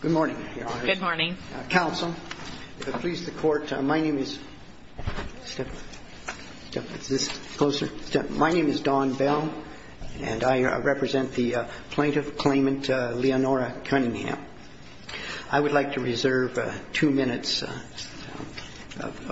Good morning, Your Honor. Good morning. Counsel, if it pleases the Court, my name is Don Bell and I represent the plaintiff claimant Leonora Cunningham. I would like to reserve two minutes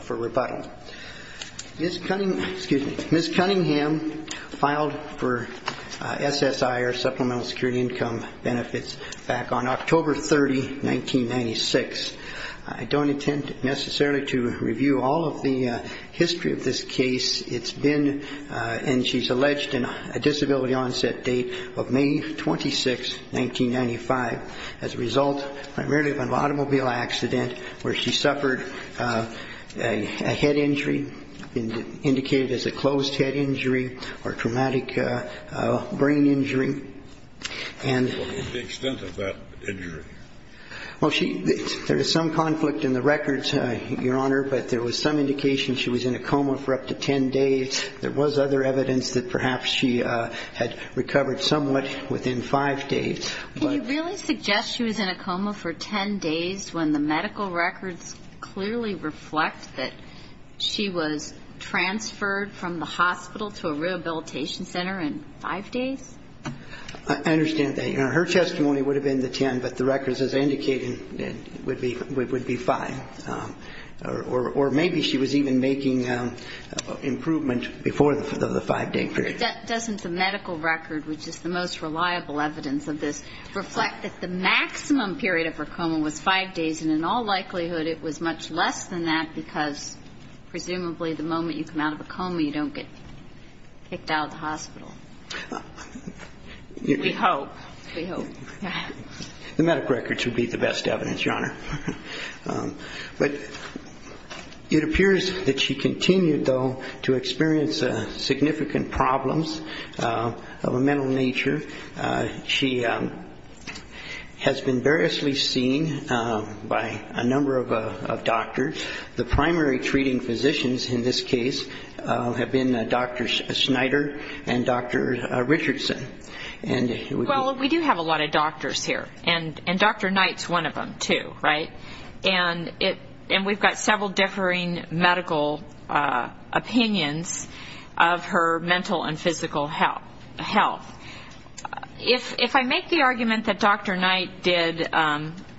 for rebuttal. Ms. Cunningham filed for SSI or Supplemental Security Income benefits back on October 30, 1996. I don't intend necessarily to review all of the history of this case. It's been, and she's alleged, a disability onset date of May 26, 1995, as a result primarily of an automobile accident where she suffered a head injury, indicated as a closed head injury, and... What was the extent of that injury? Well, she, there is some conflict in the records, Your Honor, but there was some indication she was in a coma for up to ten days. There was other evidence that perhaps she had recovered somewhat within five days. Can you really suggest she was in a coma for ten days when the medical records clearly reflect that she was transferred from the hospital to a rehabilitation center in five days? I understand that, Your Honor. Her testimony would have been the ten, but the records, as I indicated, would be five. Or maybe she was even making improvement before the five day period. Doesn't the medical record, which is the most reliable evidence of this, reflect that the maximum period of her coma was five days? And in all likelihood, it was much less than that because presumably the moment you come out of a coma, you don't get kicked out of the hospital. We hope. We hope. The medical records would be the best evidence, Your Honor. But it appears that she continued, though, to experience significant problems of a mental nature. She has been variously seen by a number of doctors. The primary treating physicians in this case have been Dr. Snyder and Dr. Richardson. Well, we do have a lot of doctors here, and Dr. Knight's one of them, too, right? And we've got several differing medical opinions of her mental and physical health. If I make the argument that Dr. Knight did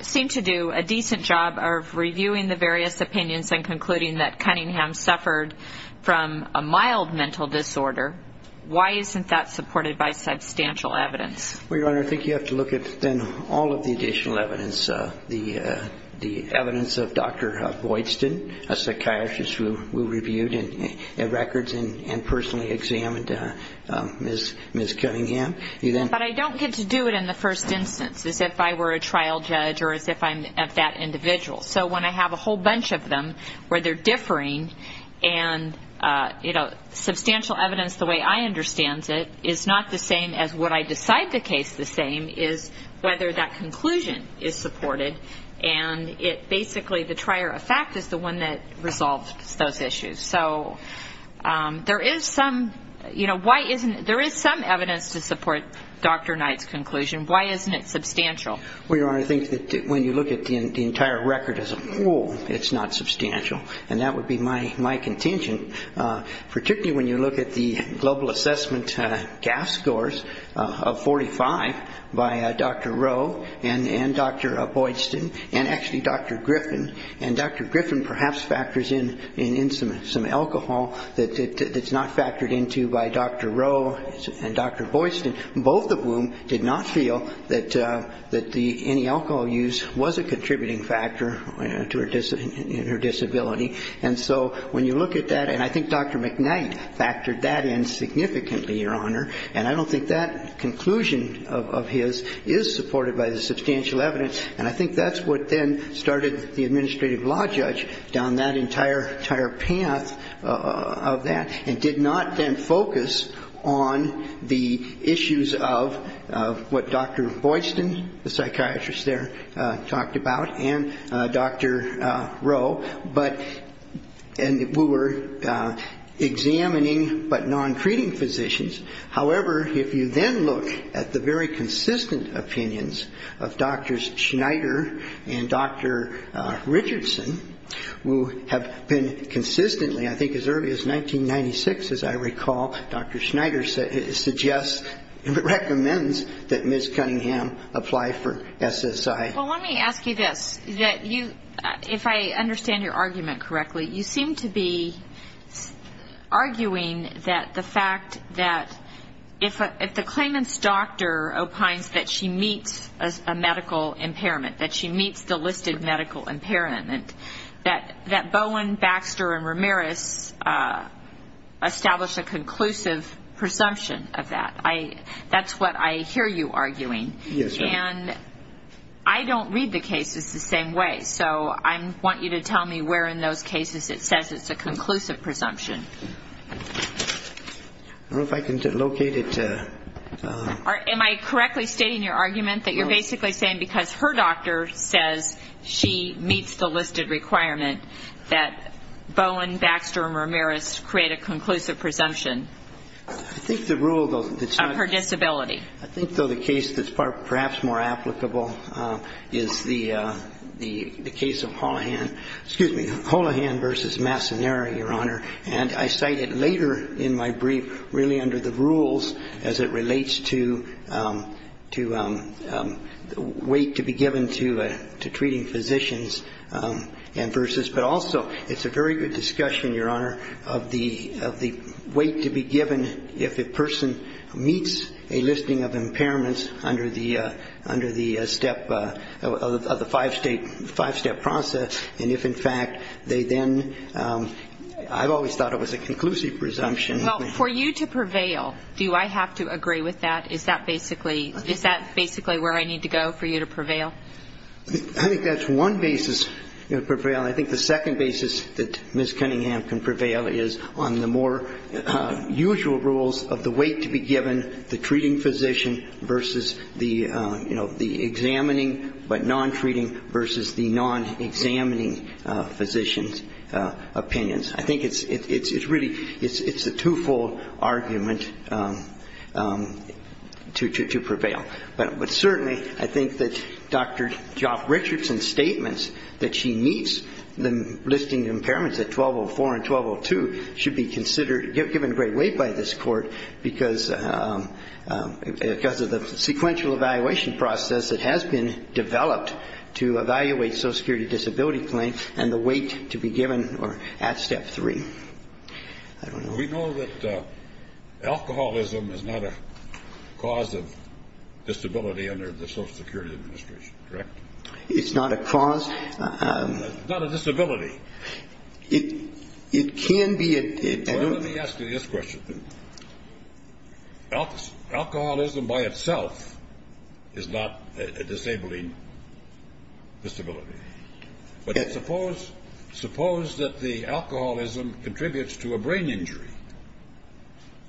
seem to do a decent job of reviewing the various opinions and concluding that Cunningham suffered from a mild mental disorder, why isn't that supported by substantial evidence? Well, Your Honor, I think you have to look at then all of the additional evidence. The medical records and personally examined Ms. Cunningham. But I don't get to do it in the first instance, as if I were a trial judge or as if I'm that individual. So when I have a whole bunch of them where they're differing and, you know, substantial evidence the way I understand it is not the same as what I decide the case the same is whether that conclusion is supported. And it basically, the trier of fact is the one that resolves those issues. So there is some, you know, why isn't, there is some evidence to support Dr. Knight's conclusion. Why isn't it substantial? Well, Your Honor, I think that when you look at the entire record as a whole, it's not substantial. And that would be my contention, particularly when you look at the global assessment GAF scores of 45 by Dr. Rowe and Dr. Boydston and actually Dr. Griffin. And Dr. Griffin perhaps factors in some alcohol that's not factored into by Dr. Rowe and Dr. Boydston, both of whom did not feel that any alcohol use was a contributing factor to her disability. And so when you look at that, and I think Dr. McKnight factored that in significantly, Your Honor. And I don't think that conclusion of his is supported by the substantial evidence. And I think that's what then started the Administrative Law Judge down that entire path of that and did not then focus on the issues of what Dr. Boydston, the psychiatrist there, talked about and Dr. Rowe. But, and we were examining but non-treating physicians. However, if you then look at the very consistent opinions of Drs. Schneider and Dr. Richardson, who have been consistently, I think as early as 1996, as I recall, Dr. Schneider suggests, recommends that Ms. Cunningham apply for SSI. Well, let me ask you this, that you, if I understand your argument correctly, you seem to be arguing that the fact that if the claimant's doctor opines that she meets a medical impairment, that she meets the listed medical impairment, that Bowen, Baxter and Ramirez establish a conclusive presumption of that. That's what I hear you arguing. Yes, Your Honor. And I don't read the cases the same way. So I want you to tell me where in those cases it says it's a conclusive presumption. I don't know if I can locate it. Am I correctly stating your argument that you're basically saying because her doctor says she meets the listed requirement that Bowen, Baxter and Ramirez create a conclusive presumption? I think the rule, though, that's not Of her disability. I think, though, the case that's perhaps more applicable is the case of Holohan, excuse me, versus Massoneri, Your Honor. And I cite it later in my brief really under the rules as it relates to weight to be given to treating physicians and versus, but also it's a very good discussion, Your Honor, of the weight to be given if a person meets a listing of I've always thought it was a conclusive presumption. Well, for you to prevail, do I have to agree with that? Is that basically where I need to go for you to prevail? I think that's one basis to prevail. And I think the second basis that Ms. Cunningham can prevail is on the more usual rules of the weight to be given, the treating physician versus the examining but non-treating versus the non-examining physician's opinions. I think it's really, it's a two-fold argument to prevail. But certainly I think that Dr. Joff Richardson's statements that she meets the listing impairments at 1204 and 1202 should be considered, given great weight by this court because of the sequential evaluation process that has been developed to evaluate social security disability claims and the weight to be given at step three. We know that alcoholism is not a cause of disability under the Social Security Administration, correct? It's not a cause. It's not a disability. It can be a disability. Well, let me ask you this question. Alcoholism by itself is not a disabling disability. But suppose that the alcoholism contributes to a brain injury,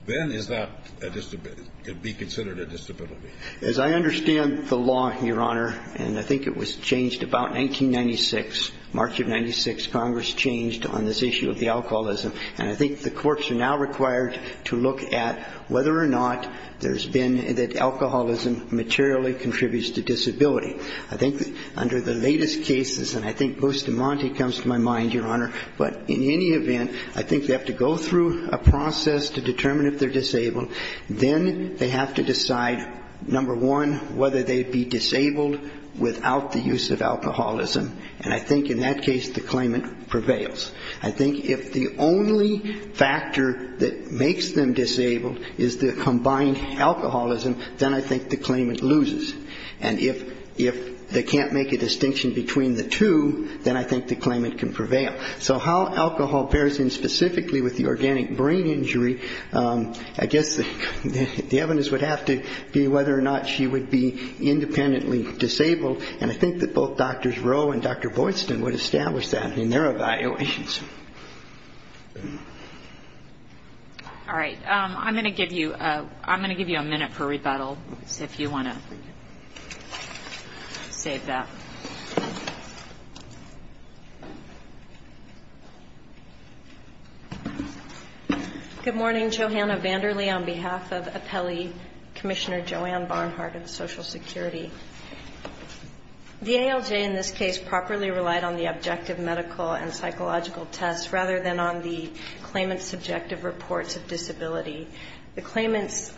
then is that a disability, could be considered a disability? As I understand the law, Your Honor, and I think it was changed about 1996, March of 1996, Congress changed on this issue of the alcoholism, and I think the courts are now required to look at whether or not there's been, that alcoholism materially contributes to disability. I think that under the latest cases, and I think Bustamante comes to my mind, Your Honor, but in any event, I think they have to go through a process to determine if they're disabled. Then they have to decide, number one, whether they'd be disabled without the use of alcoholism, and I think in that case the claimant prevails. I think if the only factor that makes them disabled is the combined alcoholism, then I think the claimant loses. And if they can't make a distinction between the two, then I think the claimant can prevail. So how alcohol pairs in specifically with the organic brain injury, I guess the evidence would have to be whether or not she would be independently disabled, and I think that both Drs. Rowe and Dr. Boydston would establish that in their evaluations. All right. I'm going to give you a minute for rebuttal, if you want to save that. Good morning. Johanna Vander Lee on behalf of Appellee Commissioner Joanne Barnhart of Social Security. The ALJ in this case properly relied on the objective medical and psychological tests rather than on the claimant's subjective reports of disability. The claimant's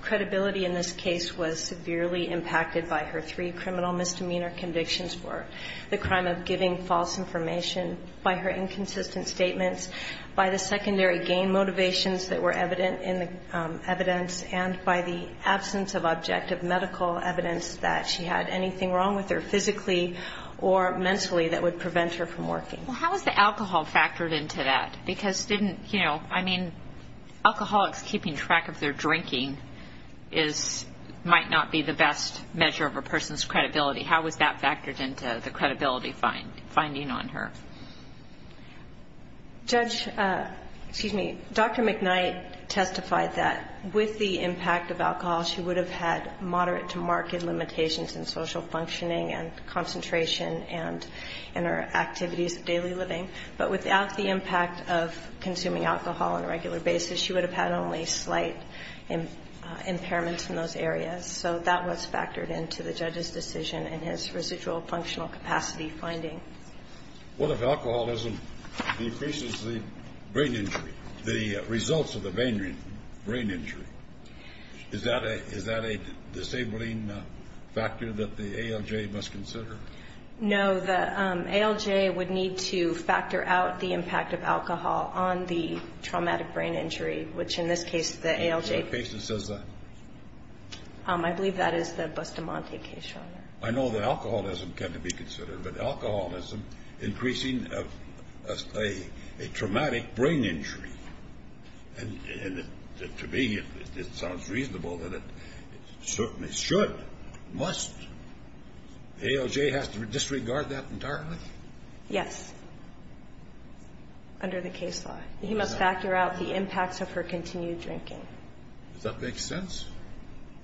credibility in this case was severely impacted by her three criminal misdemeanor convictions for the crime of giving false information, by her inconsistent statements, by the secondary gain motivations that were evident in the evidence, and by the absence of objective medical evidence that she had anything wrong with her physically or mentally that would prevent her from working. Well, how is the alcohol factored into that? Because didn't, you know, I mean, alcoholics keeping track of their drinking is, might not be the best measure of a person's credibility. How was that factored into the credibility finding on her? Judge, excuse me, Dr. McKnight testified that with the impact of alcohol, she would have had moderate to marked limitations in social functioning and concentration and in her activities of daily living. But without the impact of consuming alcohol on a regular basis, she would have had only slight impairments in those areas. So that was factored into the in his residual functional capacity finding. What if alcoholism decreases the brain injury, the results of the brain injury? Is that a disabling factor that the ALJ must consider? No, the ALJ would need to factor out the impact of alcohol on the traumatic brain injury, which in this case the ALJ What case does that? I know that alcoholism can be considered, but alcoholism increasing a traumatic brain injury, and to me it sounds reasonable that it certainly should, must. The ALJ has to disregard that entirely? Yes, under the case law. He must factor out the impacts of her continued drinking. Does that make sense?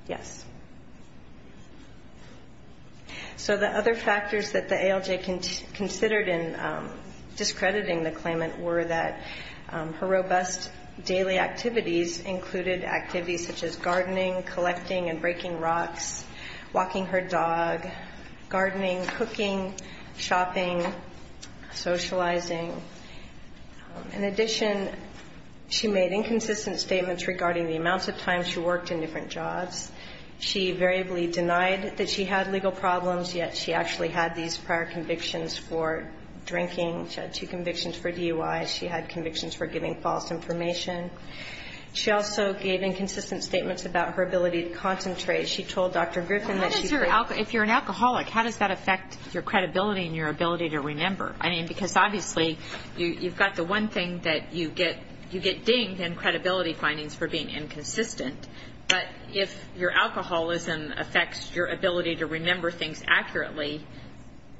Yes. So the other factors that the ALJ considered in discrediting the claimant were that her robust daily activities included activities such as gardening, collecting and breaking rocks, walking her dog, gardening, cooking, shopping, socializing. In addition, she made inconsistent statements regarding the amounts of time she worked in different jobs. She variably denied that she had legal problems, yet she actually had these prior convictions for drinking. She had two convictions for DUI. She had convictions for giving false information. She also gave inconsistent statements about her ability to concentrate. She told Dr. Griffin that she How does your, if you're an alcoholic, how does that affect your credibility and your ability to remember? I mean, because obviously you've got the one thing that you get dinged and credibility findings for being inconsistent. But if your alcoholism affects your ability to remember things accurately,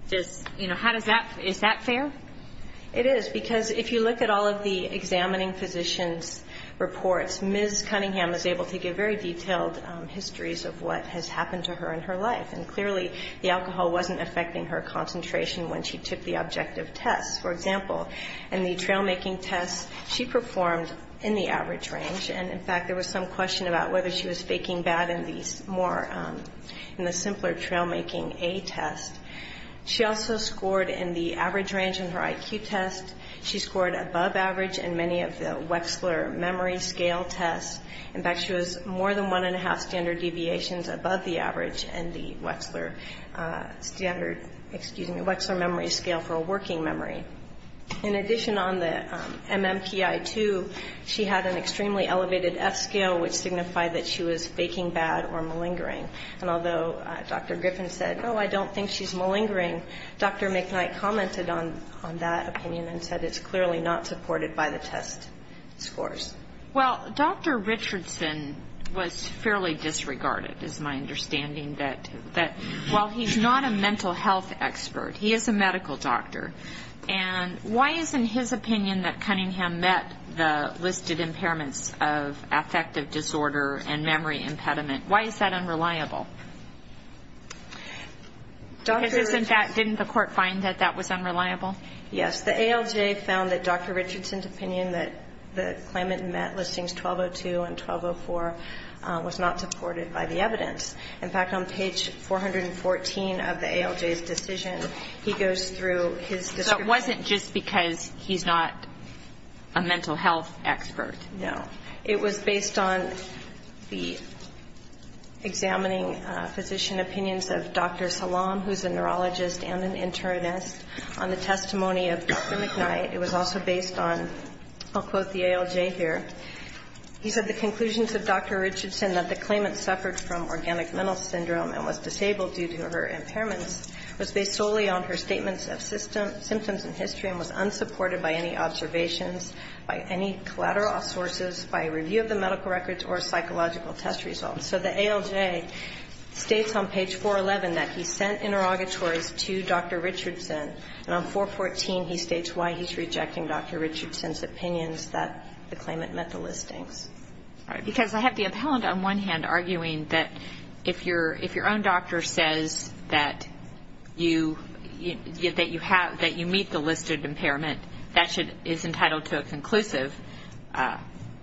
does, you know, how does that, is that fair? It is, because if you look at all of the examining physician's reports, Ms. Cunningham is able to give very detailed histories of what has happened to her in her life. And clearly, the alcohol wasn't affecting her concentration when she took the objective tests. For example, in the trail-making test, she performed in the average range. And in fact, there was some question about whether she was faking bad in the more, in the simpler trail-making A test. She also scored in the average range in her IQ test. She scored above average in many of the Wechsler memory scale tests. In fact, she was more than one and a half standard deviations above the average in the Wechsler standard, excuse me, Wechsler memory scale for a working memory. In addition, on the MMPI-2, she had an extremely elevated F scale, which signified that she was faking bad or malingering. And although Dr. Griffin said, oh, I don't think she's malingering, Dr. McKnight commented on that opinion and said it's clearly not supported by the test scores. Well, Dr. Richardson was fairly disregarded, is my understanding, that while he's not a doctor. And why is it in his opinion that Cunningham met the listed impairments of affective disorder and memory impediment? Why is that unreliable? Because isn't that, didn't the court find that that was unreliable? Yes. The ALJ found that Dr. Richardson's opinion that the claimant met listings 1202 and 1204 was not supported by the evidence. In fact, on page 414 of the ALJ's decision, he goes through his description. So it wasn't just because he's not a mental health expert? No. It was based on the examining physician opinions of Dr. Salam, who's a neurologist and an internist, on the testimony of Dr. McKnight. It was also based on, I'll quote the ALJ here, he said the conclusions of Dr. Richardson that the claimant suffered from organic mental syndrome and was disabled due to her impairments was based solely on her statements of symptoms and history and was unsupported by any observations, by any collateral sources, by review of the medical records or psychological test results. So the ALJ states on page 411 that he sent interrogatories to Dr. Richardson, and on 414 he states why he's rejecting Dr. Richardson's opinions that the claimant met the listings. All right. Because I have the appellant on one hand arguing that if your own doctor says that you meet the listed impairment, that is entitled to a conclusive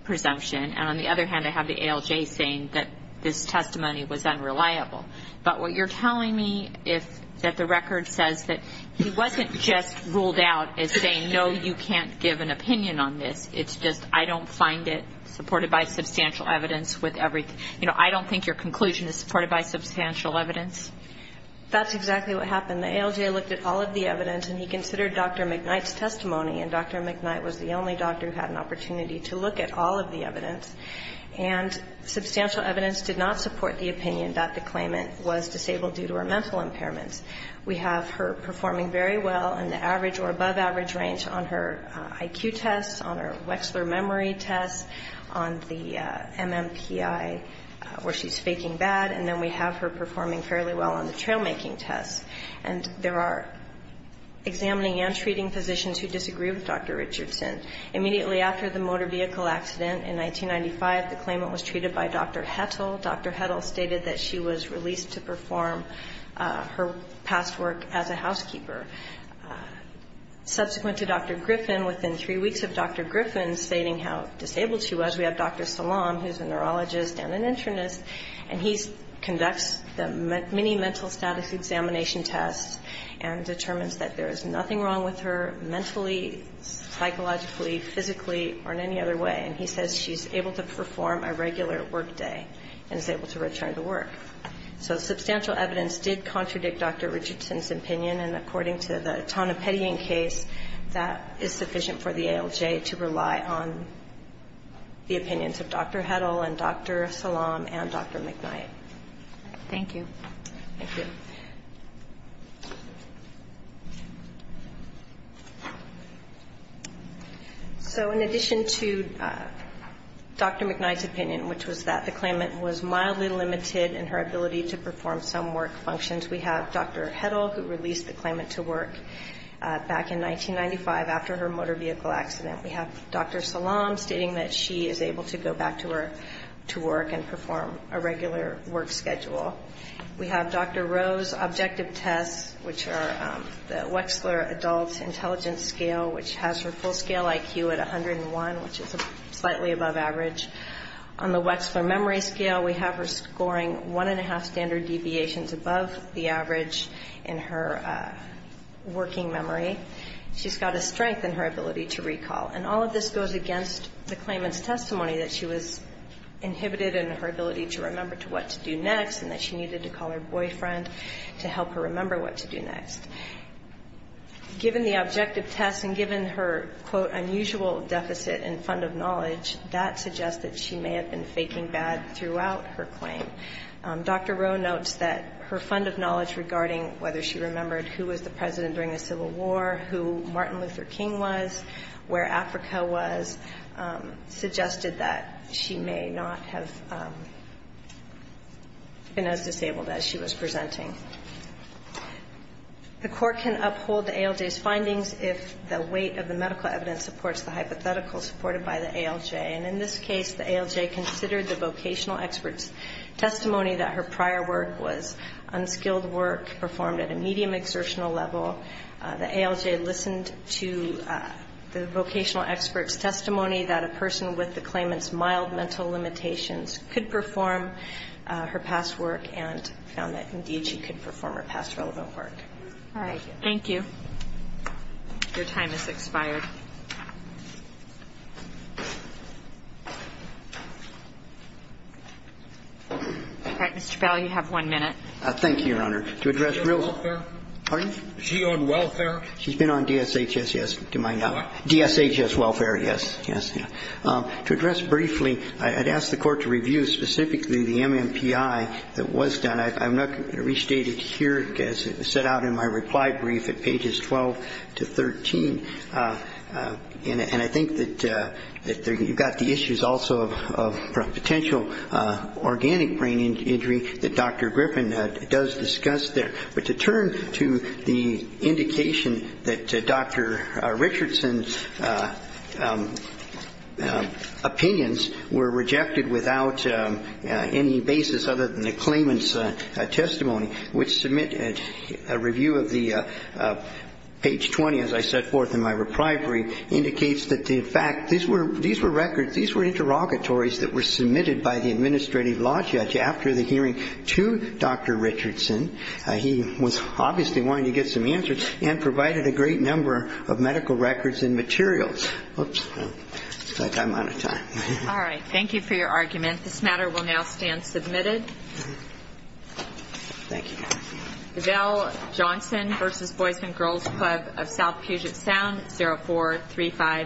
presumption. And on the other hand, I have the ALJ saying that this testimony was unreliable. But what you're telling me is that the record says that he wasn't just ruled out as saying, no, you can't give an opinion on this. It's just I don't find it supported by substantial evidence. That's exactly what happened. The ALJ looked at all of the evidence, and he considered Dr. McKnight's testimony. And Dr. McKnight was the only doctor who had an opportunity to look at all of the evidence. And substantial evidence did not support the opinion that the claimant was disabled due to her mental impairments. We have her performing very well in the average or above average range on her IQ tests, on her Wechsler memory tests, on the MMPI where she's faking bad. And then we have her performing fairly well on the trail-making tests. And there are examining and treating physicians who disagree with Dr. Richardson. Immediately after the motor vehicle accident in 1995, the claimant was treated by Dr. Hettle. Dr. Hettle stated that she was released to perform her past work as a housekeeper. Subsequent to Dr. Griffin, within three weeks of Dr. Griffin stating how disabled she was, we have Dr. Salam, who's a neurologist and an internist, and he conducts the mini mental status examination tests and determines that there is nothing wrong with her mentally, psychologically, physically, or in any other way. And he says she's able to perform a regular work day and is able to return to work. So substantial evidence did contradict Dr. Richardson's opinion. And according to the opinions of Dr. Hettle and Dr. Salam and Dr. McKnight. Thank you. Thank you. So in addition to Dr. McKnight's opinion, which was that the claimant was mildly limited in her ability to perform some work functions, we have Dr. Hettle, who released the claimant to work back in 1995 after her motor vehicle accident. We have Dr. Salam stating that she is able to go back to work and perform a regular work schedule. We have Dr. Rowe's objective tests, which are the Wexler Adult Intelligence Scale, which has her full scale IQ at 101, which is slightly above average. On the Wexler Memory Scale, we have her scoring one and a half standard deviations above the average in her working memory. She's got a strength in her ability to recall. And all of this goes against the claimant's testimony that she was inhibited in her ability to remember to what to do next and that she needed to call her boyfriend to help her remember what to do next. Given the objective tests and given her, quote, unusual deficit in fund of knowledge, that suggests that she may have been faking bad throughout her claim. Dr. Rowe notes that her fund of knowledge regarding whether she remembered who was the president during the Civil War, who Martin Luther King was, where Africa was, suggested that she may not have been as disabled as she was presenting. The Court can uphold the ALJ's findings if the weight of the medical evidence supports the hypothetical supported by the ALJ. And in this case, the ALJ considered the vocational expert's testimony that her prior work was unskilled work performed at a medium exertional level. The ALJ listened to the vocational expert's testimony that a person with the claimant's mild mental limitations could perform her past work and found that, indeed, she could perform her past relevant work. All right. Thank you. Your time has expired. All right. Mr. Powell, you have one minute. Thank you, Your Honor. To address real... Is she on welfare? Pardon? Is she on welfare? She's been on DSHS, yes. What? DSHS welfare, yes. To address briefly, I'd ask the Court to review specifically the MMPI that was done. I'm not going to restate it here, as it was set out in my reply brief at pages 12 to 13. And I think that you've got the issues also of potential organic brain injury that Dr. Griffin does discuss there. But to turn to the indication that Dr. Richardson's opinions were rejected without any basis other than the claimant's testimony, which submitted a review of the page 20, as I set forth in my reply brief, indicates that, in fact, these were records, these were interrogatories that were submitted by the administrative law judge after the hearing to Dr. Richardson. He was obviously wanting to get some answers and provided a great number of medical records and materials. Oops. Looks like I'm out of time. All right. Thank you for your argument. This matter will now stand submitted. Thank you, Your Honor. Giselle Johnson v. Boys and Girls Club of South Puget Sound, 04351.